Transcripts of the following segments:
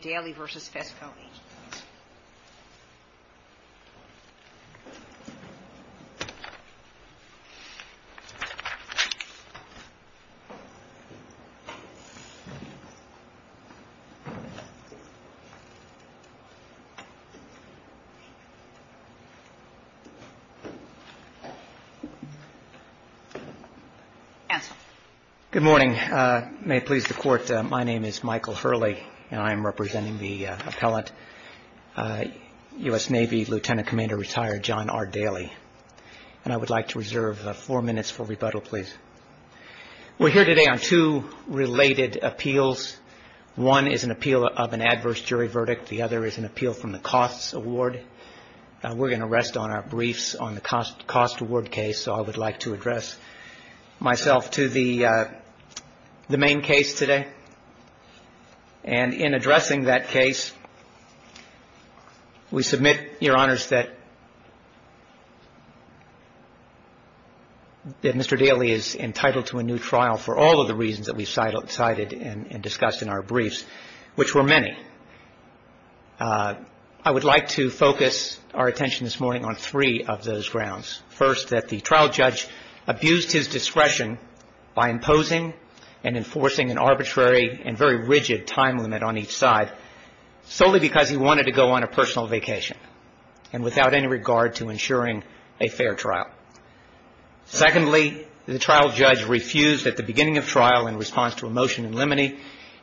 Daly v. Fesco Agencies. Good morning. May it please the Court, my name is Michael Hurley and I am representing the appellant, U.S. Navy Lieutenant Commander Retired John R. Daly. And I would like to reserve four minutes for rebuttal, please. We're here today on two related appeals. One is an appeal of an adverse jury verdict. The other is an appeal from the costs award. We're going to rest on our briefs on the cost award case, so I would like to address myself to the main case today. And in addressing that case, we submit, Your Honors, that Mr. Daly is entitled to a new trial for all of the reasons that we've cited and discussed in our briefs, which were many. I would like to focus our attention this morning on three of those grounds. First, that the very rigid time limit on each side, solely because he wanted to go on a personal vacation and without any regard to ensuring a fair trial. Secondly, the trial judge refused at the beginning of trial, in response to a motion in limine,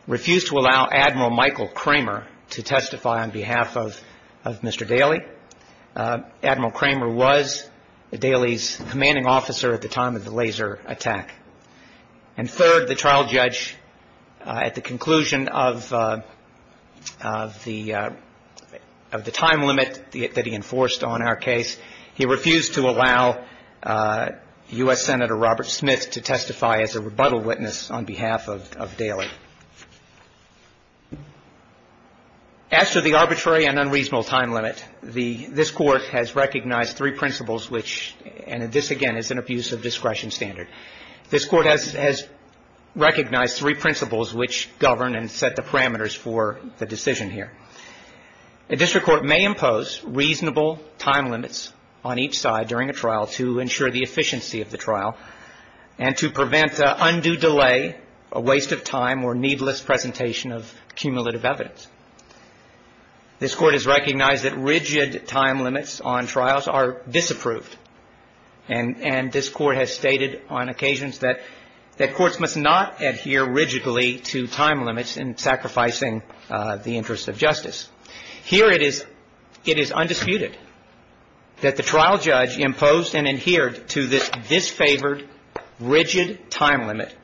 refused to allow Admiral Michael Kramer to testify on behalf of Mr. Daly. Admiral Kramer was Daly's commanding officer at the time of the laser attack. And third, the trial judge, at the conclusion of the time limit that he enforced on our case, he refused to allow U.S. Senator Robert Smith to testify as a rebuttal witness on behalf of Daly. As to the arbitrary and unreasonable time limit, this Court has recognized three principles which, and this again is an abuse of discretion standard, this Court has recognized three principles which govern and set the parameters for the decision here. A district court may impose reasonable time limits on each side during a trial to ensure the efficiency of the trial and to prevent undue delay, a waste of time or needless presentation of cumulative evidence. This Court has recognized that rigid time limits on trials are disapproved. And this Court has stated on occasions that courts must not adhere rigidly to time limits in sacrificing the interest of justice. Here it is undisputed that the trial judge imposed and adhered to this disfavored rigid time limit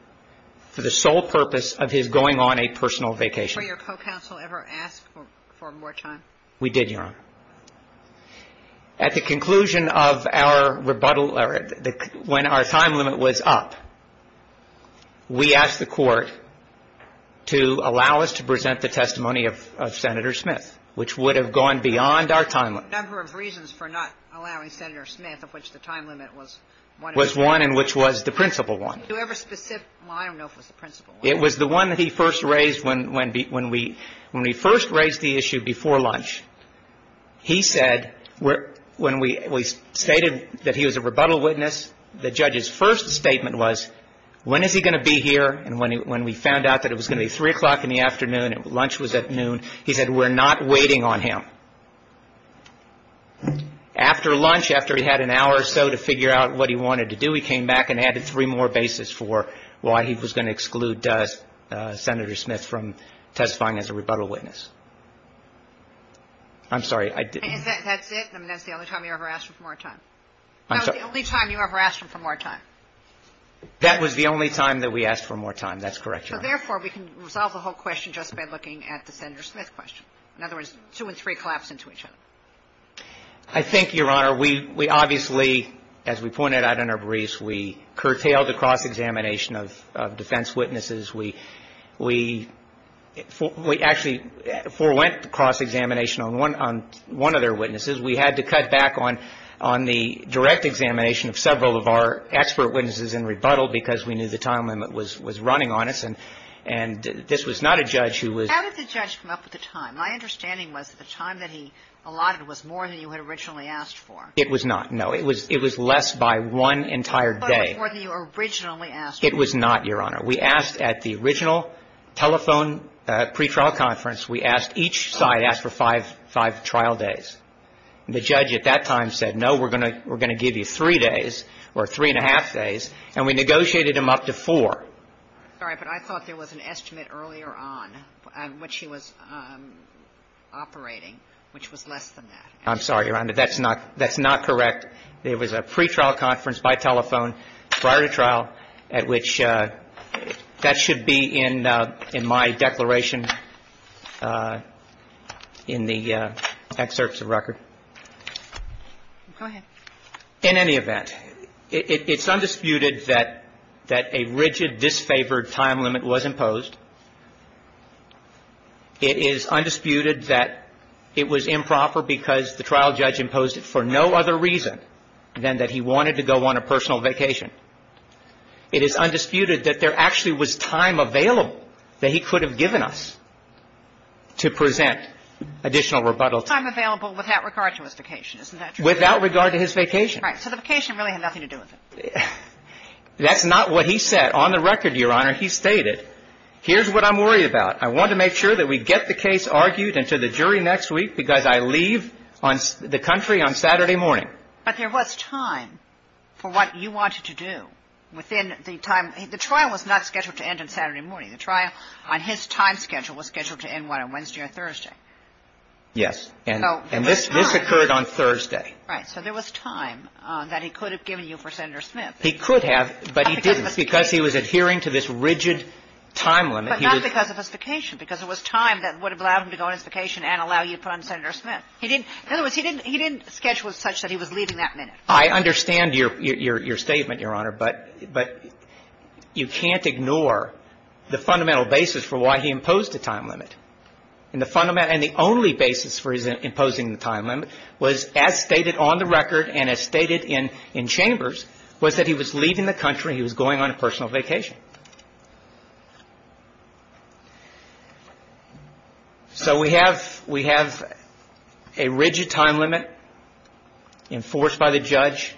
for the sole purpose of his going on a personal vacation. Were your co-counsel ever asked for more time? We did, Your Honor. At the conclusion of our rebuttal, when our time limit was up, we asked the Court to allow us to present the testimony of Senator Smith, which would have gone beyond our time limit. There were a number of reasons for not allowing Senator Smith, of which the time limit was one and which was the principal one. Were you ever specific? Well, I don't know if it was the principal one. It was the one that he first raised when we first raised the issue before lunch. He said, when we stated that he was a rebuttal witness, the judge's first statement was, when is he going to be here? And when we found out that it was going to be 3 o'clock in the afternoon and lunch was at noon, he said, we're not waiting on him. After lunch, after he had an hour or so to figure out what he wanted to do, he came back and added three more bases for why he was going to exclude Senator Smith from testifying as a rebuttal witness. I'm sorry, I didn't. That's it? That's the only time you ever asked for more time? That was the only time you ever asked for more time? That was the only time that we asked for more time. That's correct, Your Honor. So therefore, we can resolve the whole question just by looking at the Senator Smith question. In other words, two and three collapse into each other. I think, Your Honor, we obviously, as we pointed out in our briefs, we curtailed the cross-examination of defense witnesses. We actually forewent the cross-examination on one of their witnesses. We had to cut back on the direct examination of several of our expert witnesses in rebuttal because we knew the time limit was running on us. And this was not a judge who was How did the judge come up with the time? My understanding was that the time that he allotted was more than you had originally asked for. It was not, no. It was less by one entire day. More than you originally asked for. It was not, Your Honor. We asked at the original telephone pretrial conference. We asked each side, asked for five trial days. The judge at that time said, no, we're going to give you three days or three and a half days, and we negotiated him up to four. I'm sorry, but I thought there was an estimate earlier on on which he was operating, which was less than that. I'm sorry, Your Honor. That's not correct. There was a pretrial conference by telephone prior to trial at which that should be in my declaration in the excerpts of record. Go ahead. In any event, it's undisputed that a rigid, disfavored time limit was imposed. It is undisputed that it was improper because the trial judge imposed it for no other reason than that he wanted to go on a personal vacation. It is undisputed that there actually was time available that he could have given us to present additional rebuttal. Time available without regard to his vacation. Without regard to his vacation. Right. So the vacation really had nothing to do with it. That's not what he said on the record, Your Honor. He stated, here's what I'm worried about. I want to make sure that we get the case argued into the jury next week because I leave on the country on Saturday morning. But there was time for what you wanted to do within the time. The trial was not scheduled to end on Saturday morning. The trial on his time schedule was scheduled to end on Wednesday or Thursday. Yes. And this occurred on Thursday. Right. So there was time that he could have given you for Senator Smith. He could have, but he didn't because he was adhering to this rigid time limit. But not because of his vacation. Because it was time that would have allowed him to go on his vacation and allow you to put on Senator Smith. In other words, he didn't schedule it such that he was leaving that minute. I understand your statement, Your Honor, but you can't ignore the fundamental basis for why he imposed a time limit. And the only basis for his imposing the time limit was as stated on the record and as stated in Chambers was that he was leaving the country, he was going on a personal vacation. So we have a rigid time limit enforced by the judge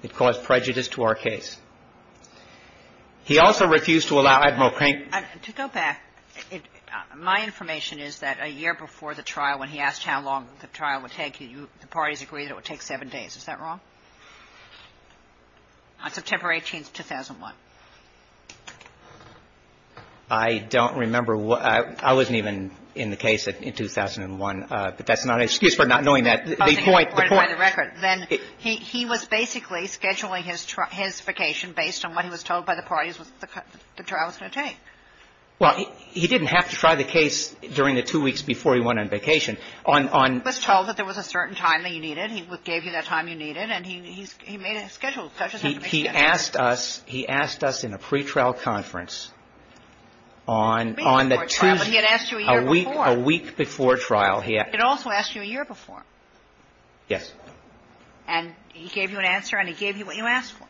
that caused prejudice to our case. He also refused to allow Admiral Crane to go back. My information is that a year before the trial, when he asked how long the trial would take, the parties agreed it would take seven days. Is that wrong? On September 18th, 2001. I don't remember. I wasn't even in the case in 2001. But that's not an excuse for not knowing that. He was basically scheduling his vacation based on what he was told by the parties the trial was going to take. Well, he didn't have to try the case during the two weeks before he went on vacation. He was told that there was a certain time that he needed. He gave you that time you needed. And he made a schedule. He asked us in a pretrial conference on the Tuesday, a week before trial. It also asked you a year before. Yes. And he gave you an answer and he gave you what you asked for.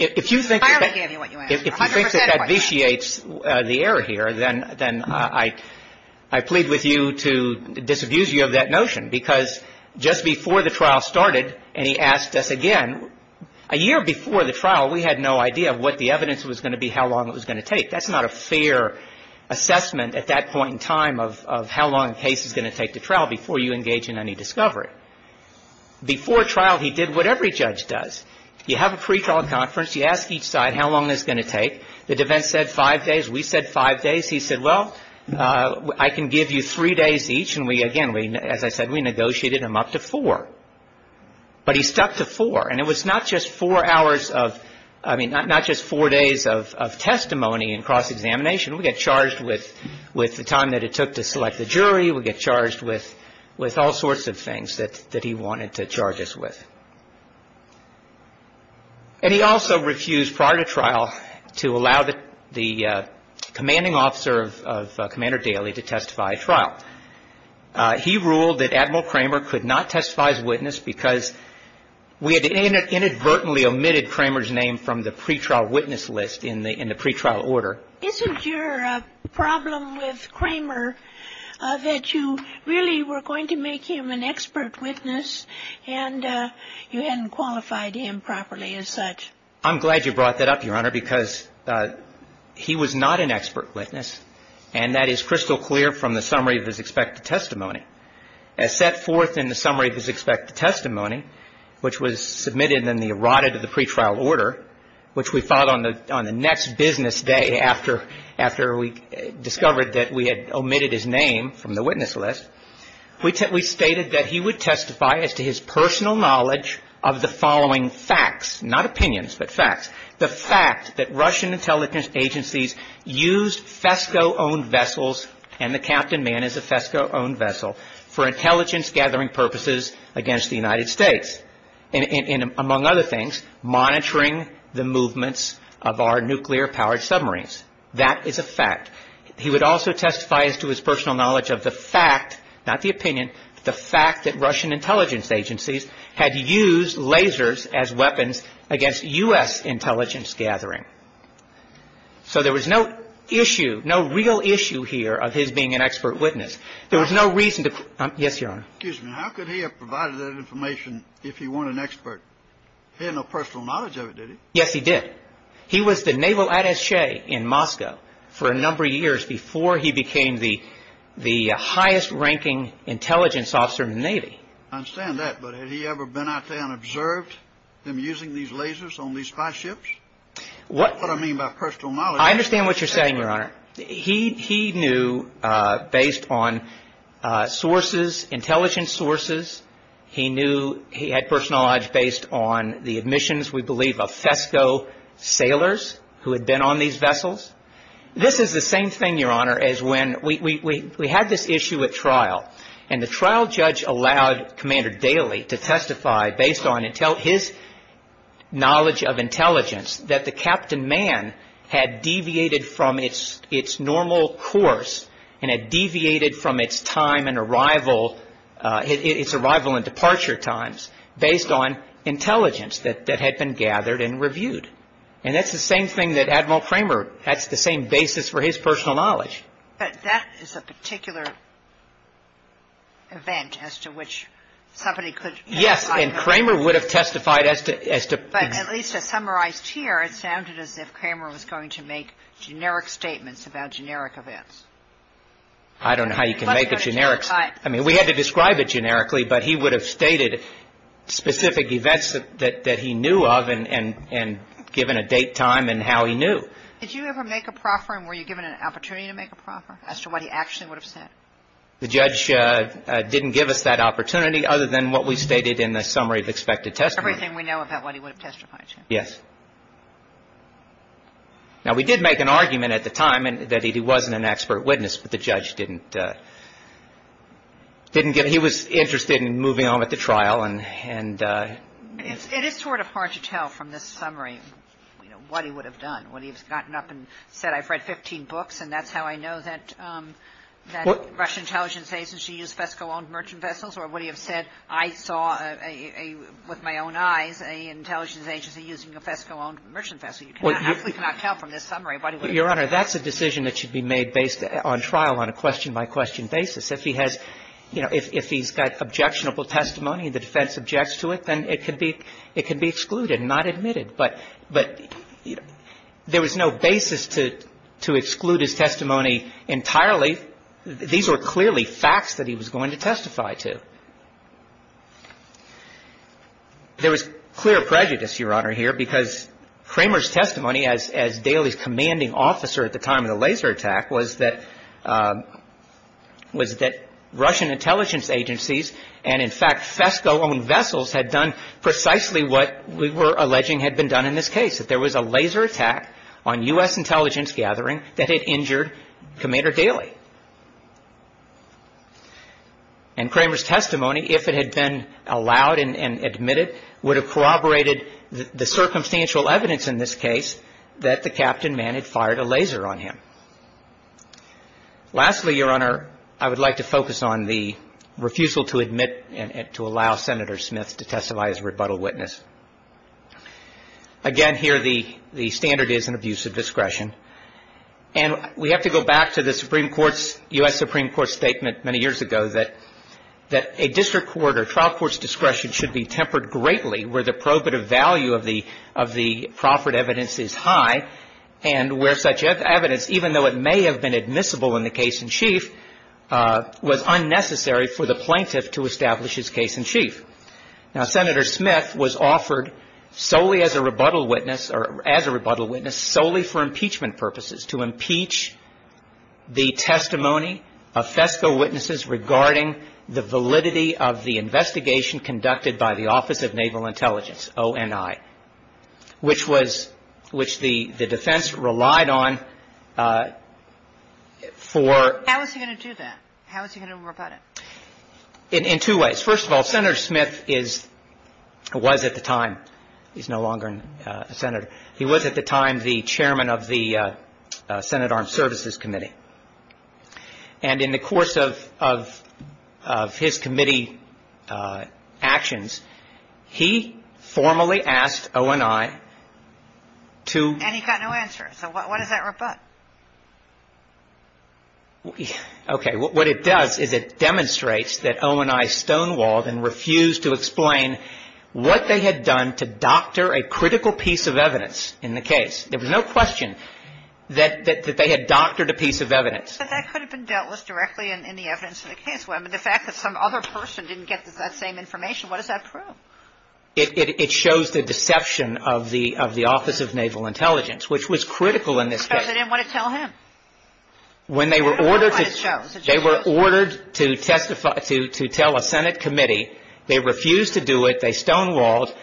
If you think that vitiates the error here, then I plead with you to disabuse you of that notion. Because just before the trial started and he asked us again, a year before the trial, we had no idea what the evidence was going to be, how long it was going to take. That's not a fair assessment at that point in time of how long the case is going to take to trial before you engage in any discovery. Before trial, he did whatever a judge does. You have a pretrial conference. You ask each side how long it's going to take. The defense said five days. We said five days. He said, well, I can give you three days each. And we, again, as I said, we negotiated him up to four. But he stuck to four. And it was not just four hours of, I mean, not just four days of testimony and cross-examination. We got charged with the time that it took to select the jury. We got charged with all sorts of things that he wanted to charge us with. And he also refused, prior to trial, to allow the commanding officer of Commander Daly to testify at trial. He ruled that Admiral Cramer could not testify as witness because we had inadvertently omitted Cramer's name from the pretrial witness list in the pretrial order. Isn't your problem with Cramer that you really were going to make him an expert witness and you hadn't qualified him properly as such? I'm glad you brought that up, Your Honor, because he was not an expert witness. And that is crystal clear from the summary of his expected testimony. As set forth in the summary of his expected testimony, which was submitted in the errated of the pretrial order, which we filed on the next business day after we discovered that we had omitted his name from the witness list, we stated that he would testify as to his personal knowledge of the following facts, not opinions, but facts. The fact that Russian intelligence agencies used FESCO-owned vessels, and the Captain Man is a FESCO-owned vessel, for intelligence-gathering purposes against the United States and, among other things, monitoring the movements of our nuclear-powered submarines. That is a fact. He would also testify as to his personal knowledge of the fact, not the opinion, but the fact that Russian intelligence agencies had used lasers as weapons against U.S. intelligence-gathering. So there was no issue, no real issue here of his being an expert witness. There was no reason to... Yes, Your Honor. Excuse me. How could he have provided that information if he weren't an expert? He had no personal knowledge of it, did he? Yes, he did. He was the naval attache in Moscow for a number of years before he became the highest-ranking intelligence officer in the Navy. I understand that, but had he ever been out there and observed them using these lasers on these spy ships? What I mean by personal knowledge... I understand what you're saying, Your Honor. He knew, based on sources, intelligence sources, he knew... of FESCO sailors who had been on these vessels. This is the same thing, Your Honor, as when we had this issue at trial, and the trial judge allowed Commander Daley to testify based on his knowledge of intelligence that the Captain Man had deviated from its normal course and had deviated from its arrival and departure times based on intelligence that had been gathered and reviewed. And that's the same thing that Admiral Cramer... that's the same basis for his personal knowledge. But that is a particular event as to which somebody could... Yes, and Cramer would have testified as to... But at least as summarized here, it sounded as if Cramer was going to make generic statements about generic events. I don't know how you can make a generic... specific events that he knew of and given a date, time, and how he knew. Did you ever make a proffer, and were you given an opportunity to make a proffer, as to what he actually would have said? The judge didn't give us that opportunity other than what we stated in the summary of expected testimony. Everything we know about what he would have testified to. Yes. Now, we did make an argument at the time that he wasn't an expert witness, but the judge didn't... didn't give... he was interested in moving on with the trial and... It is sort of hard to tell from this summary, you know, what he would have done. Would he have gotten up and said, I've read 15 books, and that's how I know that the Russian intelligence agency used FESCO-owned merchant vessels? Or would he have said, I saw with my own eyes an intelligence agency using a FESCO-owned merchant vessel? You cannot... we cannot tell from this summary what he would have... Your Honor, that's a decision that should be made based on trial on a question-by-question basis. If he has, you know, if he's got objectionable testimony, the defense objects to it, then it could be excluded and not admitted. But there was no basis to exclude his testimony entirely. These were clearly facts that he was going to testify to. There was clear prejudice, Your Honor, here, because Kramer's testimony, as... as Daly's commanding officer at the time of the laser attack, was that... was that Russian intelligence agencies and, in fact, FESCO-owned vessels had done precisely what we were alleging had been done in this case, that there was a laser attack on U.S. intelligence gathering that had injured Commander Daly. And Kramer's testimony, if it had been allowed and admitted, would have corroborated the circumstantial evidence in this case that the captain man had fired a laser on him. Lastly, Your Honor, I would like to focus on the refusal to admit and to allow Senator Smith to testify as a rebuttal witness. Again, here, the... the standard is an abuse of discretion. And we have to go back to the Supreme Court's... U.S. Supreme Court's statement many years ago that... that a district court or trial court's discretion should be tempered greatly where the probative value of the... of the proffered evidence is high and where such evidence, even though it may have been admissible in the case in chief, was unnecessary for the plaintiff to establish his case in chief. Now, Senator Smith was offered solely as a rebuttal witness or... as a rebuttal witness solely for impeachment purposes, to impeach the testimony of FESCO witnesses regarding the validity of the investigation conducted by the Office of Naval Intelligence, ONI, which was... which the... the defense relied on for... How was he going to do that? How was he going to rebut it? In... in two ways. First of all, Senator Smith is... was at the time... He's no longer a senator. He was at the time the chairman of the Senate Armed Services Committee. And in the course of... of... of his committee actions, he formally asked ONI to... And he got no answer. So what... what does that rebut? Okay, what it does is it demonstrates that ONI stonewalled and refused to explain what they had done to doctor a critical piece of evidence in the case. There was no question that... that... that they had doctored a piece of evidence. But that could have been dealt with directly in... in the evidence of the case. I mean, the fact that some other person didn't get that same information, what does that prove? It... it... it shows the deception of the... of the Office of Naval Intelligence, which was critical in this case. Because they didn't want to tell him. When they were ordered to... That's what it shows. They were ordered to testify... to... to tell a Senate committee. They refused to do it. They stonewalled.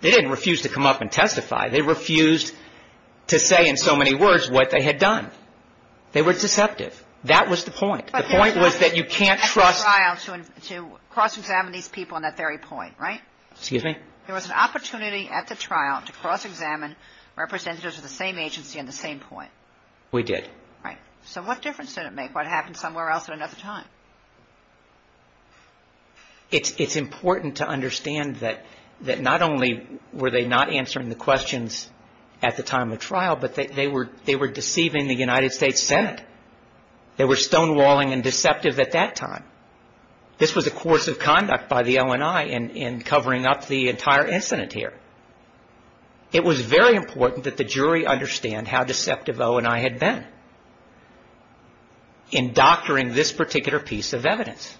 They didn't refuse to come up and testify. They refused to say in so many words what they had done. They were deceptive. That was the point. The point was that you can't trust... But there was an opportunity at the trial to... to cross-examine these people on that very point, right? Excuse me? There was an opportunity at the trial to cross-examine representatives of the same agency on the same point. We did. Right. So what difference did it make what happened somewhere else at another time? It's... it's important to understand that... that not only were they not answering the questions at the time of trial, but they... they were... they were deceiving the United States Senate. They were stonewalling and deceptive at that time. This was a course of conduct by the ONI in... in covering up the entire incident here. It was very important that the jury understand how deceptive ONI had been in doctoring this particular piece of evidence.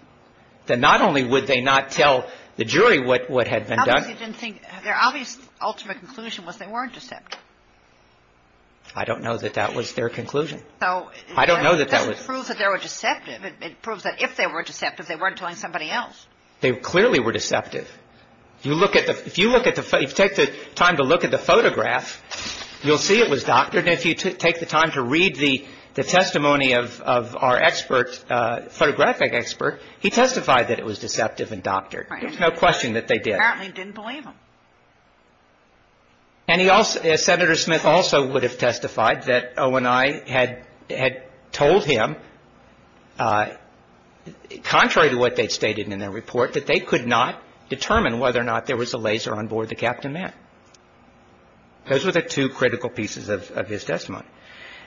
That not only would they not tell the jury what... what had been done... How come they didn't think... their obvious ultimate conclusion was they weren't deceptive? I don't know that that was their conclusion. So... I don't know that that was... It doesn't prove that they were deceptive. It proves that if they were deceptive, they weren't telling somebody else. They clearly were deceptive. You look at the... If you look at the... If you take the time to look at the photograph, you'll see it was doctored. And if you take the time to read the... the testimony of... of our expert, photographic expert, he testified that it was deceptive and doctored. There's no question that they did. Apparently he didn't believe them. And he also... Senator Smith also would have testified that ONI had... had told him, contrary to what they'd stated in their report, that they could not determine whether or not there was a laser on board the Captain Man. Those were the two critical pieces of... of his testimony.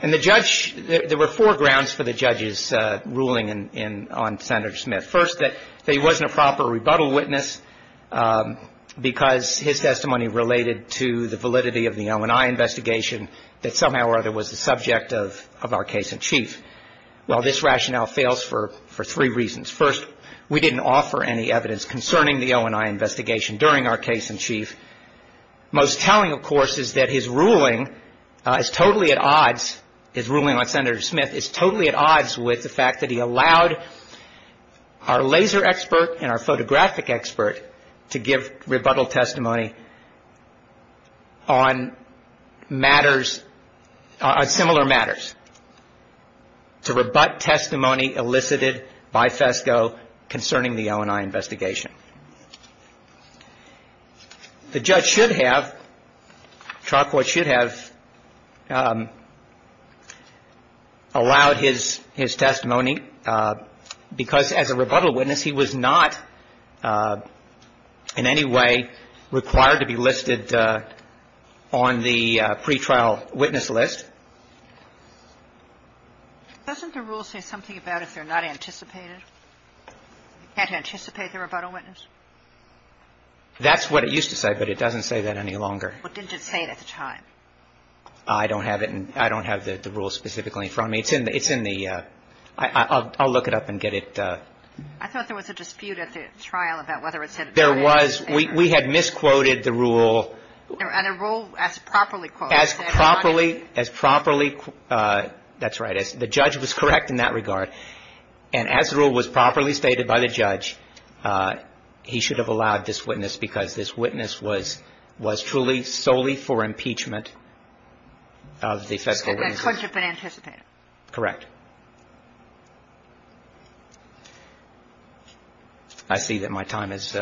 And the judge... There were four grounds for the judge's ruling in... in... on Senator Smith. First, that he wasn't a proper rebuttal witness because his testimony related to the validity of the ONI investigation that somehow or other was the subject of... of our case in chief. Well, this rationale fails for... for three reasons. First, we didn't offer any evidence concerning the ONI investigation during our case in chief. Most telling, of course, is that his ruling is totally at odds... His ruling on Senator Smith is totally at odds with the fact that he allowed our laser expert and our photographic expert to give rebuttal testimony on matters... on similar matters. To rebut testimony elicited by FESCO concerning the ONI investigation. The judge should have... trial court should have... allowed his... his testimony because, as a rebuttal witness, he was not in any way required to be listed on the pretrial witness list. Doesn't the rule say something about if they're not anticipated? Can't anticipate the rebuttal witness? That's what it used to say, but it doesn't say that any longer. Well, didn't it say it at the time? I don't have it in... I don't have the rule specifically in front of me. It's in the... it's in the... I'll... I'll look it up and get it... I thought there was a dispute at the trial about whether it said... There was. We... we had misquoted the rule. And a rule as properly quoted... As properly... as properly... that's right. The judge was correct in that regard. And as the rule was properly stated by the judge, he should have allowed this witness because this witness was... was truly solely for impeachment of the FESCO witnesses. And that court should have been anticipated. Correct. I see that my time is...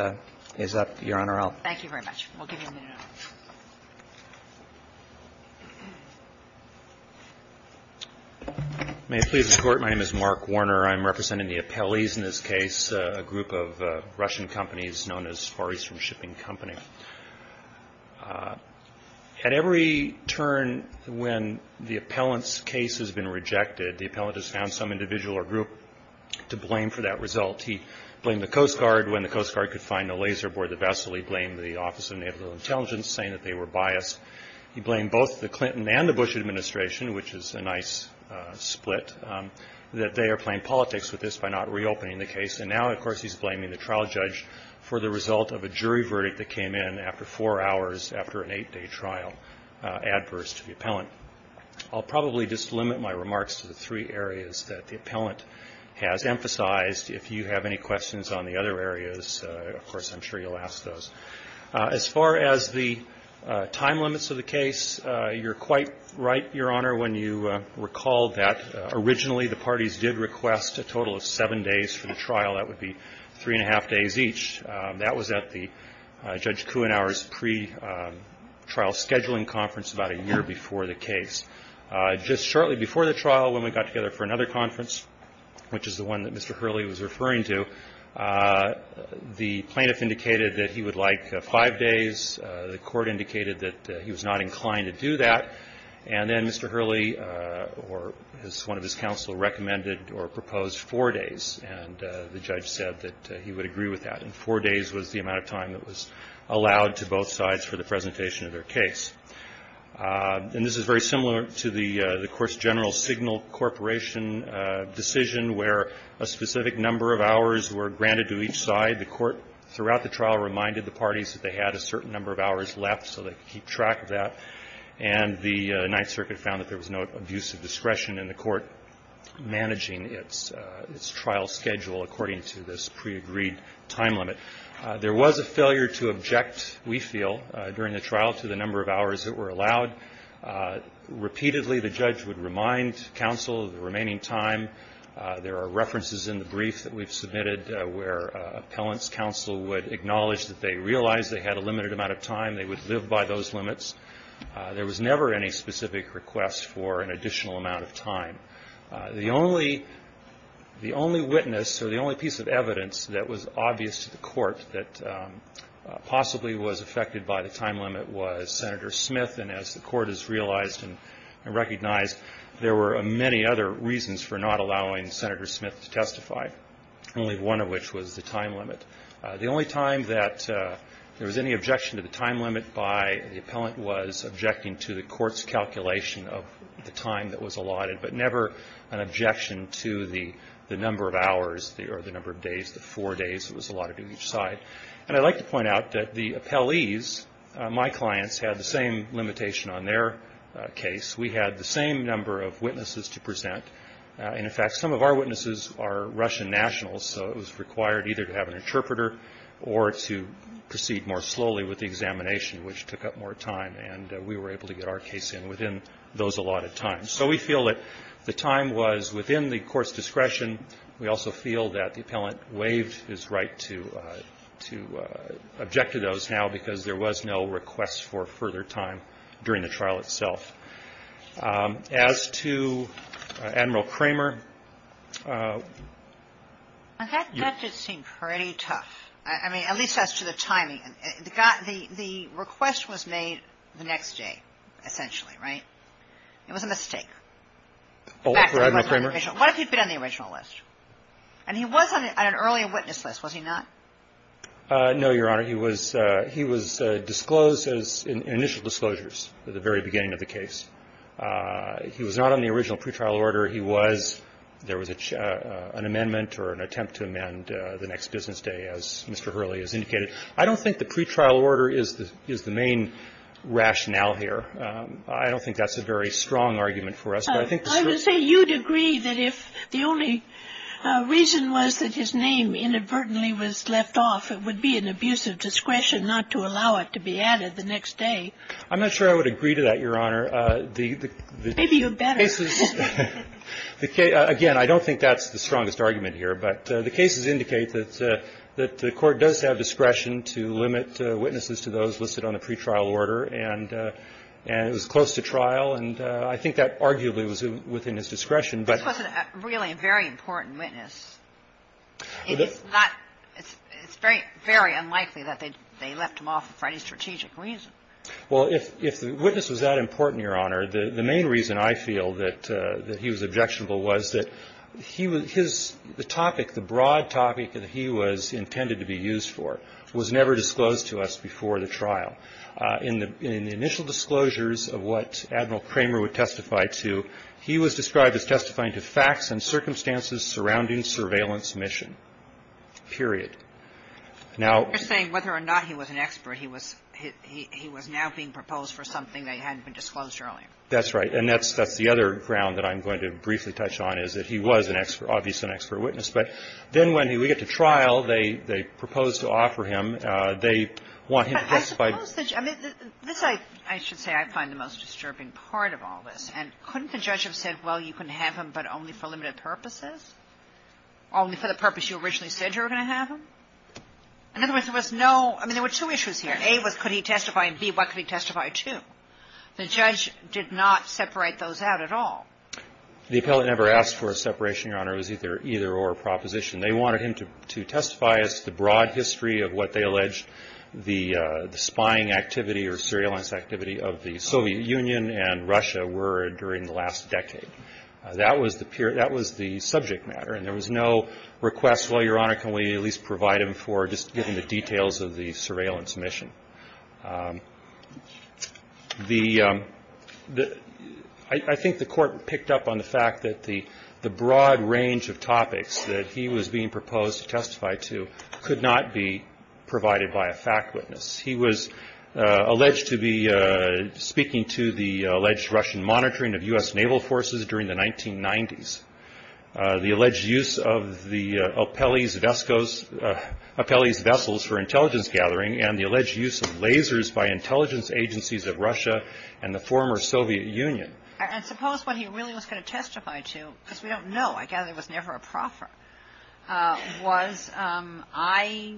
is up, Your Honor. I'll... Thank you very much. We'll give you a minute. May it please the Court, my name is Mark Warner. I'm representing the appellees in this case, a group of Russian companies known as Far Eastern Shipping Company. At every turn when the appellant's case has been rejected, the appellant has found some individual or group to blame for that result. He blamed the Coast Guard. When the Coast Guard could find the laser aboard the vessel, he blamed the Office of Naval Intelligence, saying that they were biased. He blamed both the Clinton and the Bush administration, which is a nice split, that they are playing politics with this by not reopening the case. And now, of course, he's blaming the trial judge for the result of a jury verdict that came in after four hours after an eight-day trial, adverse to the appellant. I'll probably just limit my remarks to the three areas that the appellant has emphasized. If you have any questions on the other areas, of course, I'm sure you'll ask those. As far as the time limits of the case, you're quite right, Your Honor, when you recall that originally the parties did request a total of seven days for the trial. That would be three and a half days each. That was at the Judge Kuenhauer's pretrial scheduling conference about a year before the case. Just shortly before the trial, when we got together for another conference, which is the one that Mr. Hurley was referring to, the plaintiff indicated that he would like five days. The court indicated that he was not inclined to do that. And then Mr. Hurley or one of his counsel recommended or proposed four days, and the judge said that he would agree with that. And four days was the amount of time that was allowed to both sides for the presentation of their case. And this is very similar to the, of course, General Signal Corporation decision, where a specific number of hours were granted to each side. The court throughout the trial reminded the parties that they had a certain number of hours left so they could keep track of that, and the Ninth Circuit found that there was no abuse of discretion in the court managing its trial schedule, according to this pre-agreed time limit. There was a failure to object, we feel, during the trial to the number of hours that were allowed. Repeatedly, the judge would remind counsel of the remaining time. There are references in the brief that we've submitted where appellant's counsel would acknowledge that they realized they had a limited amount of time. They would live by those limits. There was never any specific request for an additional amount of time. The only witness or the only piece of evidence that was obvious to the court that possibly was affected by the time limit was Senator Smith, and as the court has realized and recognized, there were many other reasons for not allowing Senator Smith to testify, only one of which was the time limit. The only time that there was any objection to the time limit by the appellant was objecting to the court's calculation of the time that was allotted, but never an objection to the number of hours or the number of days, the four days it was allotted to each side. And I'd like to point out that the appellees, my clients, had the same limitation on their case. We had the same number of witnesses to present. In fact, some of our witnesses are Russian nationals, so it was required either to have an interpreter or to proceed more slowly with the examination, which took up more time, and we were able to get our case in within those allotted times. So we feel that the time was within the court's discretion. We also feel that the appellant waived his right to object to those now because there was no request for further time during the trial itself. As to Admiral Kramer. That did seem pretty tough, at least as to the timing. The request was made the next day, essentially, right? It was a mistake. What if he'd been on the original list? And he was on an earlier witness list, was he not? No, Your Honor. He was disclosed as initial disclosures at the very beginning of the case. He was not on the original pretrial order. He was. There was an amendment or an attempt to amend the next business day, as Mr. Hurley has indicated. I don't think the pretrial order is the main rationale here. I don't think that's a very strong argument for us. I would say you'd agree that if the only reason was that his name inadvertently was left off, it would be an abuse of discretion not to allow it to be added the next day. I'm not sure I would agree to that, Your Honor. Maybe you're better. Again, I don't think that's the strongest argument here. But the cases indicate that the Court does have discretion to limit witnesses to those listed on the pretrial order, and it was close to trial. And I think that arguably was within his discretion. This wasn't really a very important witness. It's very unlikely that they left him off for any strategic reason. Well, if the witness was that important, Your Honor, the main reason I feel that he was objectionable was that his topic, the broad topic that he was intended to be used for, was never disclosed to us before the trial. In the initial disclosures of what Admiral Kramer would testify to, he was described as testifying to facts and circumstances surrounding surveillance mission, period. Now — You're saying whether or not he was an expert, he was now being proposed for something that hadn't been disclosed earlier. That's right. And that's the other ground that I'm going to briefly touch on is that he was an expert, obviously an expert witness. But then when we get to trial, they propose to offer him. They want him to testify. But I suppose that — I mean, this, I should say, I find the most disturbing part of all this. And couldn't the judge have said, well, you can have him, but only for limited purposes, only for the purpose you originally said you were going to have him? In other words, there was no — I mean, there were two issues here. A was could he testify, and B, what could he testify to? The judge did not separate those out at all. The appellate never asked for a separation, Your Honor. It was either-or proposition. They wanted him to testify as to the broad history of what they alleged the spying activity or surveillance activity of the Soviet Union and Russia were during the last decade. That was the subject matter. And there was no request, well, Your Honor, can we at least provide him for just giving the details of the surveillance mission? The — I think the court picked up on the fact that the broad range of topics that he was being proposed to testify to could not be provided by a fact witness. He was alleged to be speaking to the alleged Russian monitoring of U.S. naval forces during the 1990s, the alleged use of the Apelles vessels for intelligence gathering, and the alleged use of lasers by intelligence agencies of Russia and the former Soviet Union. And suppose what he really was going to testify to, because we don't know, I gather it was never a proffer, was I,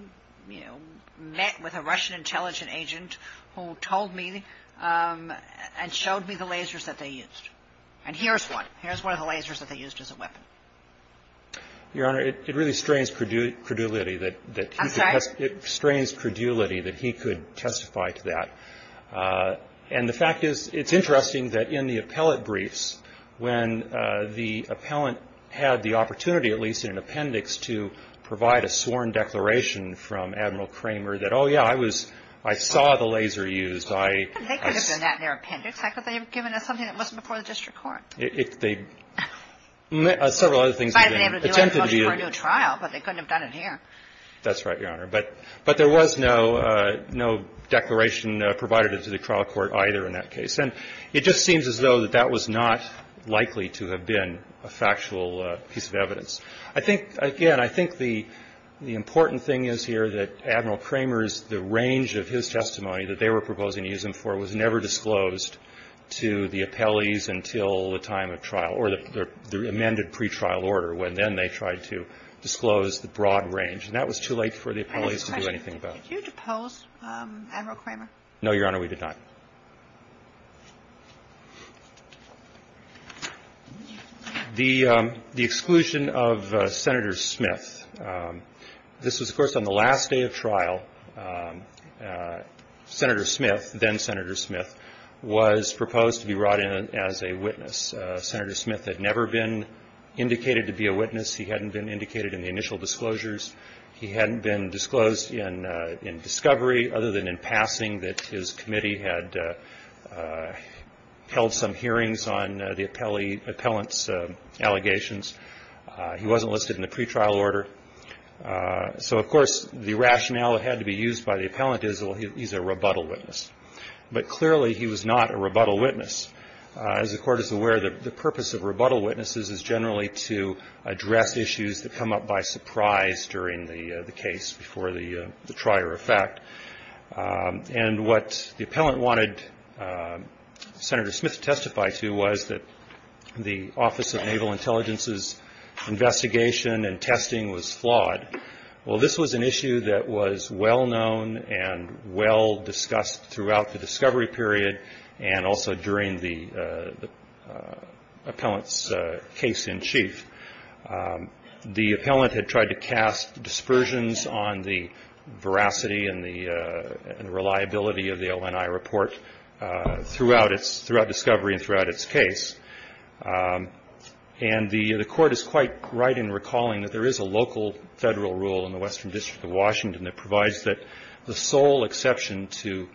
you know, met with a Russian intelligent agent who told me and showed me the lasers that they used. And here's one. Here's one of the lasers that they used as a weapon. Your Honor, it really strains credulity that — I'm sorry? It strains credulity that he could testify to that. And the fact is, it's interesting that in the appellate briefs, when the appellant had the opportunity, at least in an appendix, to provide a sworn declaration from Admiral Kramer that, oh, yeah, I was — I saw the laser used, I — But they could have done that in their appendix. How could they have given us something that wasn't before the district court? They — several other things have been attempted to do. They might have been able to do it for a new trial, but they couldn't have done it here. That's right, Your Honor. But there was no declaration provided to the trial court either in that case. And it just seems as though that that was not likely to have been a factual piece of evidence. I think — again, I think the important thing is here that Admiral Kramer's — the range of his testimony that they were proposing to use him for was never disclosed to the appellees until the time of trial or the amended pretrial order, when then they tried to disclose the broad range. And that was too late for the appellees to do anything about it. I have a question. Did you depose Admiral Kramer? No, Your Honor, we did not. The exclusion of Senator Smith. This was, of course, on the last day of trial. Senator Smith, then Senator Smith, was proposed to be brought in as a witness. Senator Smith had never been indicated to be a witness. He hadn't been indicated in the initial disclosures. He hadn't been disclosed in discovery, other than in passing, that his committee had held some hearings on the appellant's allegations. He wasn't listed in the pretrial order. So, of course, the rationale that had to be used by the appellant is, well, he's a rebuttal witness. But clearly he was not a rebuttal witness. As the Court is aware, the purpose of rebuttal witnesses is generally to address issues that come up by surprise during the case before the trier effect. And what the appellant wanted Senator Smith to testify to was that the Office of Naval Intelligence's investigation and testing was flawed. Well, this was an issue that was well-known and well-discussed throughout the discovery period and also during the appellant's case in chief. The appellant had tried to cast dispersions on the veracity and the reliability of the ONI report throughout discovery and throughout its case. And the Court is quite right in recalling that there is a local federal rule in the Western District of Washington that provides that the sole exception to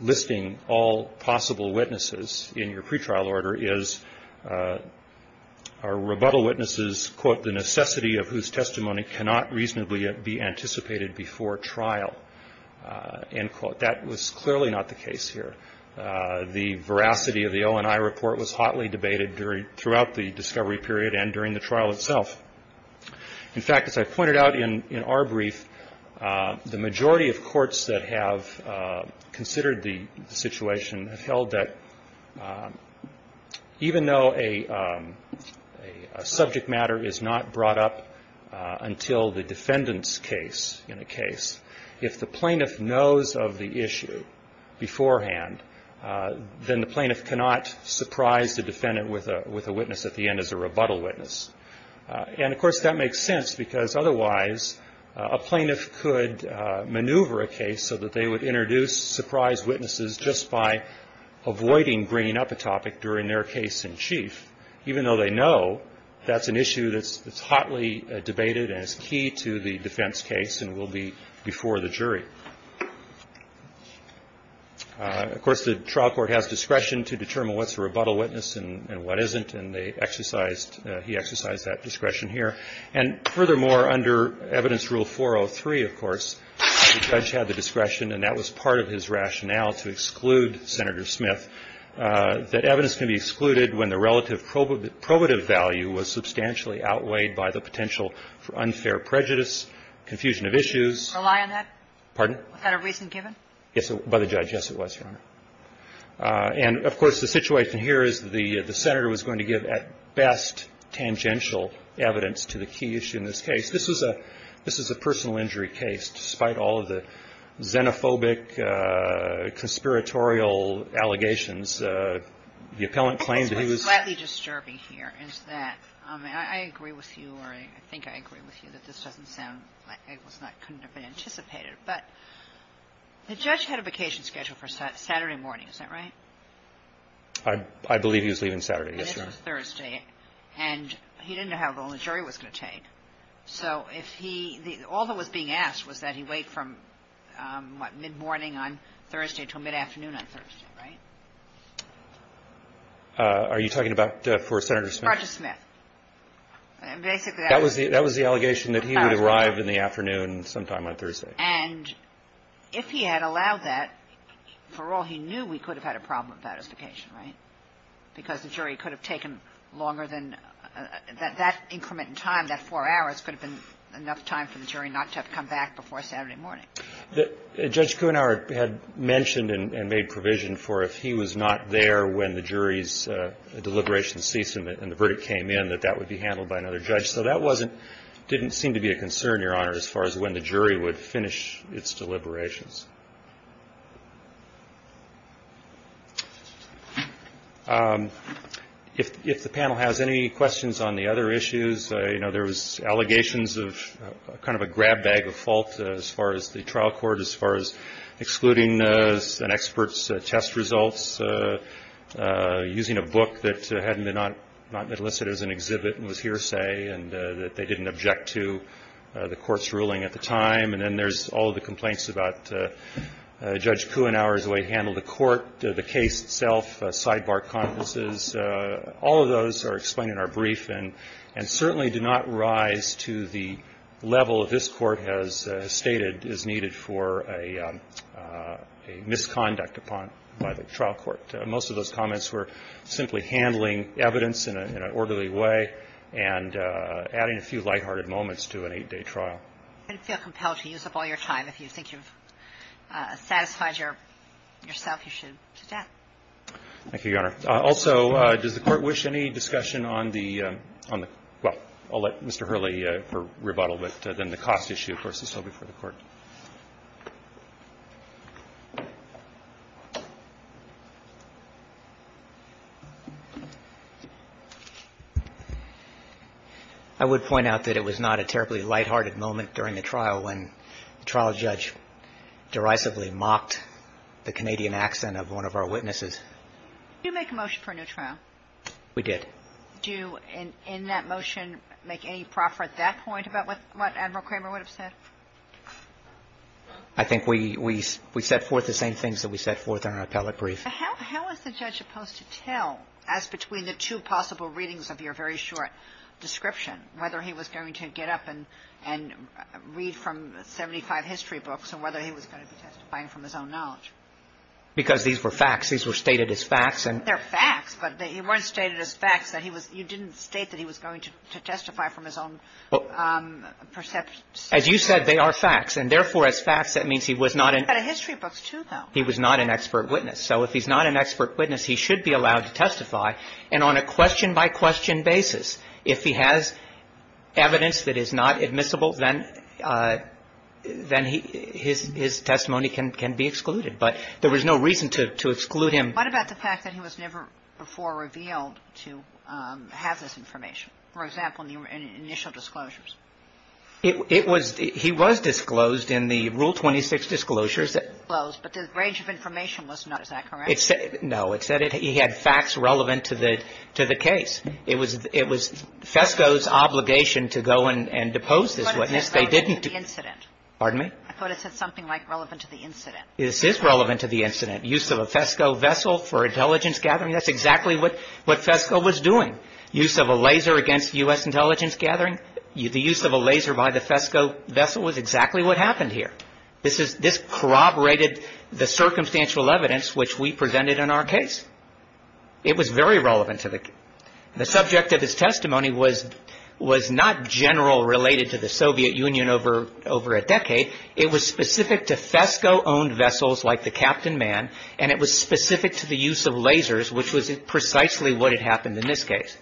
listing all possible witnesses in your pretrial order is a rebuttal witness's, quote, the necessity of whose testimony cannot reasonably be anticipated before trial, end quote. That was clearly not the case here. The veracity of the ONI report was hotly debated throughout the discovery period and during the trial itself. In fact, as I pointed out in our brief, the majority of courts that have considered the situation have held that even though a subject matter is not brought up until the defendant's case in a case, if the plaintiff knows of the issue beforehand, then the plaintiff cannot surprise the defendant with a witness at the end as a rebuttal witness. And, of course, that makes sense because otherwise a plaintiff could maneuver a case so that they would introduce surprise witnesses just by avoiding bringing up a topic during their case in chief, even though they know that's an issue that's hotly debated and is key to the defense case and will be before the jury. Of course, the trial court has discretion to determine what's a rebuttal witness and what isn't, and they exercised, he exercised that discretion here. And, furthermore, under Evidence Rule 403, of course, the judge had the discretion, and that was part of his rationale to exclude Senator Smith, that evidence can be excluded when the relative probative value was substantially outweighed by the potential for unfair prejudice, confusion of issues. Kagan. Yes, Your Honor. And, of course, the situation here is the Senator was going to give, at best, tangential evidence to the key issue in this case. This is a personal injury case, despite all of the xenophobic, conspiratorial allegations. The appellant claimed that he was — What's slightly disturbing here is that, I mean, I agree with you, or I think I agree with you, that this doesn't sound like it was not — couldn't have been anticipated. But the judge had a vacation schedule for Saturday morning. Is that right? I believe he was leaving Saturday, yes, Your Honor. And this was Thursday. And he didn't know how long the jury was going to take. So if he — all that was being asked was that he wait from, what, mid-morning on Thursday until mid-afternoon on Thursday, right? Are you talking about for Senator Smith? Roger Smith. Basically, that was the — That was the allegation that he would arrive in the afternoon sometime on Thursday. And if he had allowed that, for all he knew, we could have had a problem with that as vacation, right? Because the jury could have taken longer than — that increment in time, that four hours, could have been enough time for the jury not to have come back before Saturday morning. Judge Kuenhauer had mentioned and made provision for if he was not there when the jury's deliberations ceased and the verdict came in, that that would be handled by another judge. So that wasn't — didn't seem to be a concern, Your Honor, as far as when the jury would finish its deliberations. If the panel has any questions on the other issues, you know, there was allegations of kind of a grab bag of fault as far as the trial court, as far as excluding an expert's test results, using a book that had not been listed as an exhibit and was hearsay, and that they didn't object to the court's ruling at the time. And then there's all the complaints about Judge Kuenhauer's way to handle the court, the case itself, sidebar conferences. All of those are explained in our brief and certainly do not rise to the level of this trial court. Most of those comments were simply handling evidence in an orderly way and adding a few lighthearted moments to an eight-day trial. I didn't feel compelled to use up all your time. If you think you've satisfied yourself, you should do that. Thank you, Your Honor. Also, does the Court wish any discussion on the — well, I'll let Mr. Hurley for rebuttal, but then the cost issue, of course, is still before the Court. I would point out that it was not a terribly lighthearted moment during the trial when the trial judge derisively mocked the Canadian accent of one of our witnesses. Did you make a motion for a new trial? We did. Do you, in that motion, make any proffer at that point about what Admiral Kramer would have said? I think we set forth the same things that we set forth in our appellate brief. How is the judge supposed to tell, as between the two possible readings of your very short description, whether he was going to get up and read from 75 history books and whether he was going to be testifying from his own knowledge? Because these were facts. These were stated as facts. They're facts, but they weren't stated as facts that he was — you didn't state that he was going to testify from his own perception. As you said, they are facts. And therefore, as facts, that means he was not an — But a history book, too, though. He was not an expert witness. So if he's not an expert witness, he should be allowed to testify. And on a question-by-question basis, if he has evidence that is not admissible, then his testimony can be excluded. But there was no reason to exclude him. What about the fact that he was never before revealed to have this information, for example, in the initial disclosures? It was — he was disclosed in the Rule 26 disclosures that — Disclosed, but the range of information was not. Is that correct? No. It said he had facts relevant to the case. It was FESCO's obligation to go and depose this witness. They didn't — I thought it said something like relevant to the incident. This is relevant to the incident. Use of a FESCO vessel for intelligence gathering, that's exactly what FESCO was doing. Use of a laser against U.S. intelligence gathering, the use of a laser by the FESCO vessel was exactly what happened here. This corroborated the circumstantial evidence which we presented in our case. It was very relevant to the — The subject of his testimony was not general related to the Soviet Union over a decade. It was specific to FESCO-owned vessels like the Captain Man, and it was specific to the use of lasers, which was precisely what had happened in this case.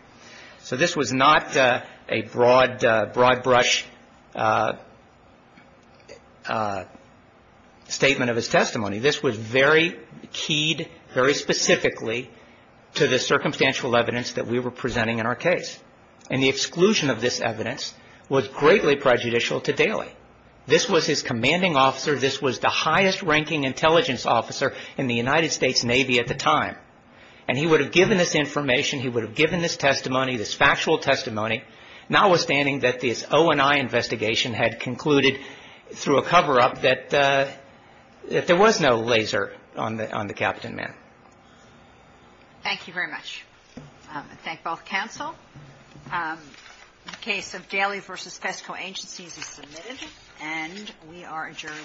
So this was not a broad-brush statement of his testimony. This was very keyed very specifically to the circumstantial evidence that we were presenting in our case. And the exclusion of this evidence was greatly prejudicial to Daley. This was his commanding officer. This was the highest-ranking intelligence officer in the United States Navy at the time. And he would have given this information. He would have given this testimony, this factual testimony, notwithstanding that this O&I investigation had concluded through a cover-up that there was no laser on the Captain Man. Thank you very much. I thank both counsel. The case of Daley v. FESCO Agencies is submitted, and we are adjourned.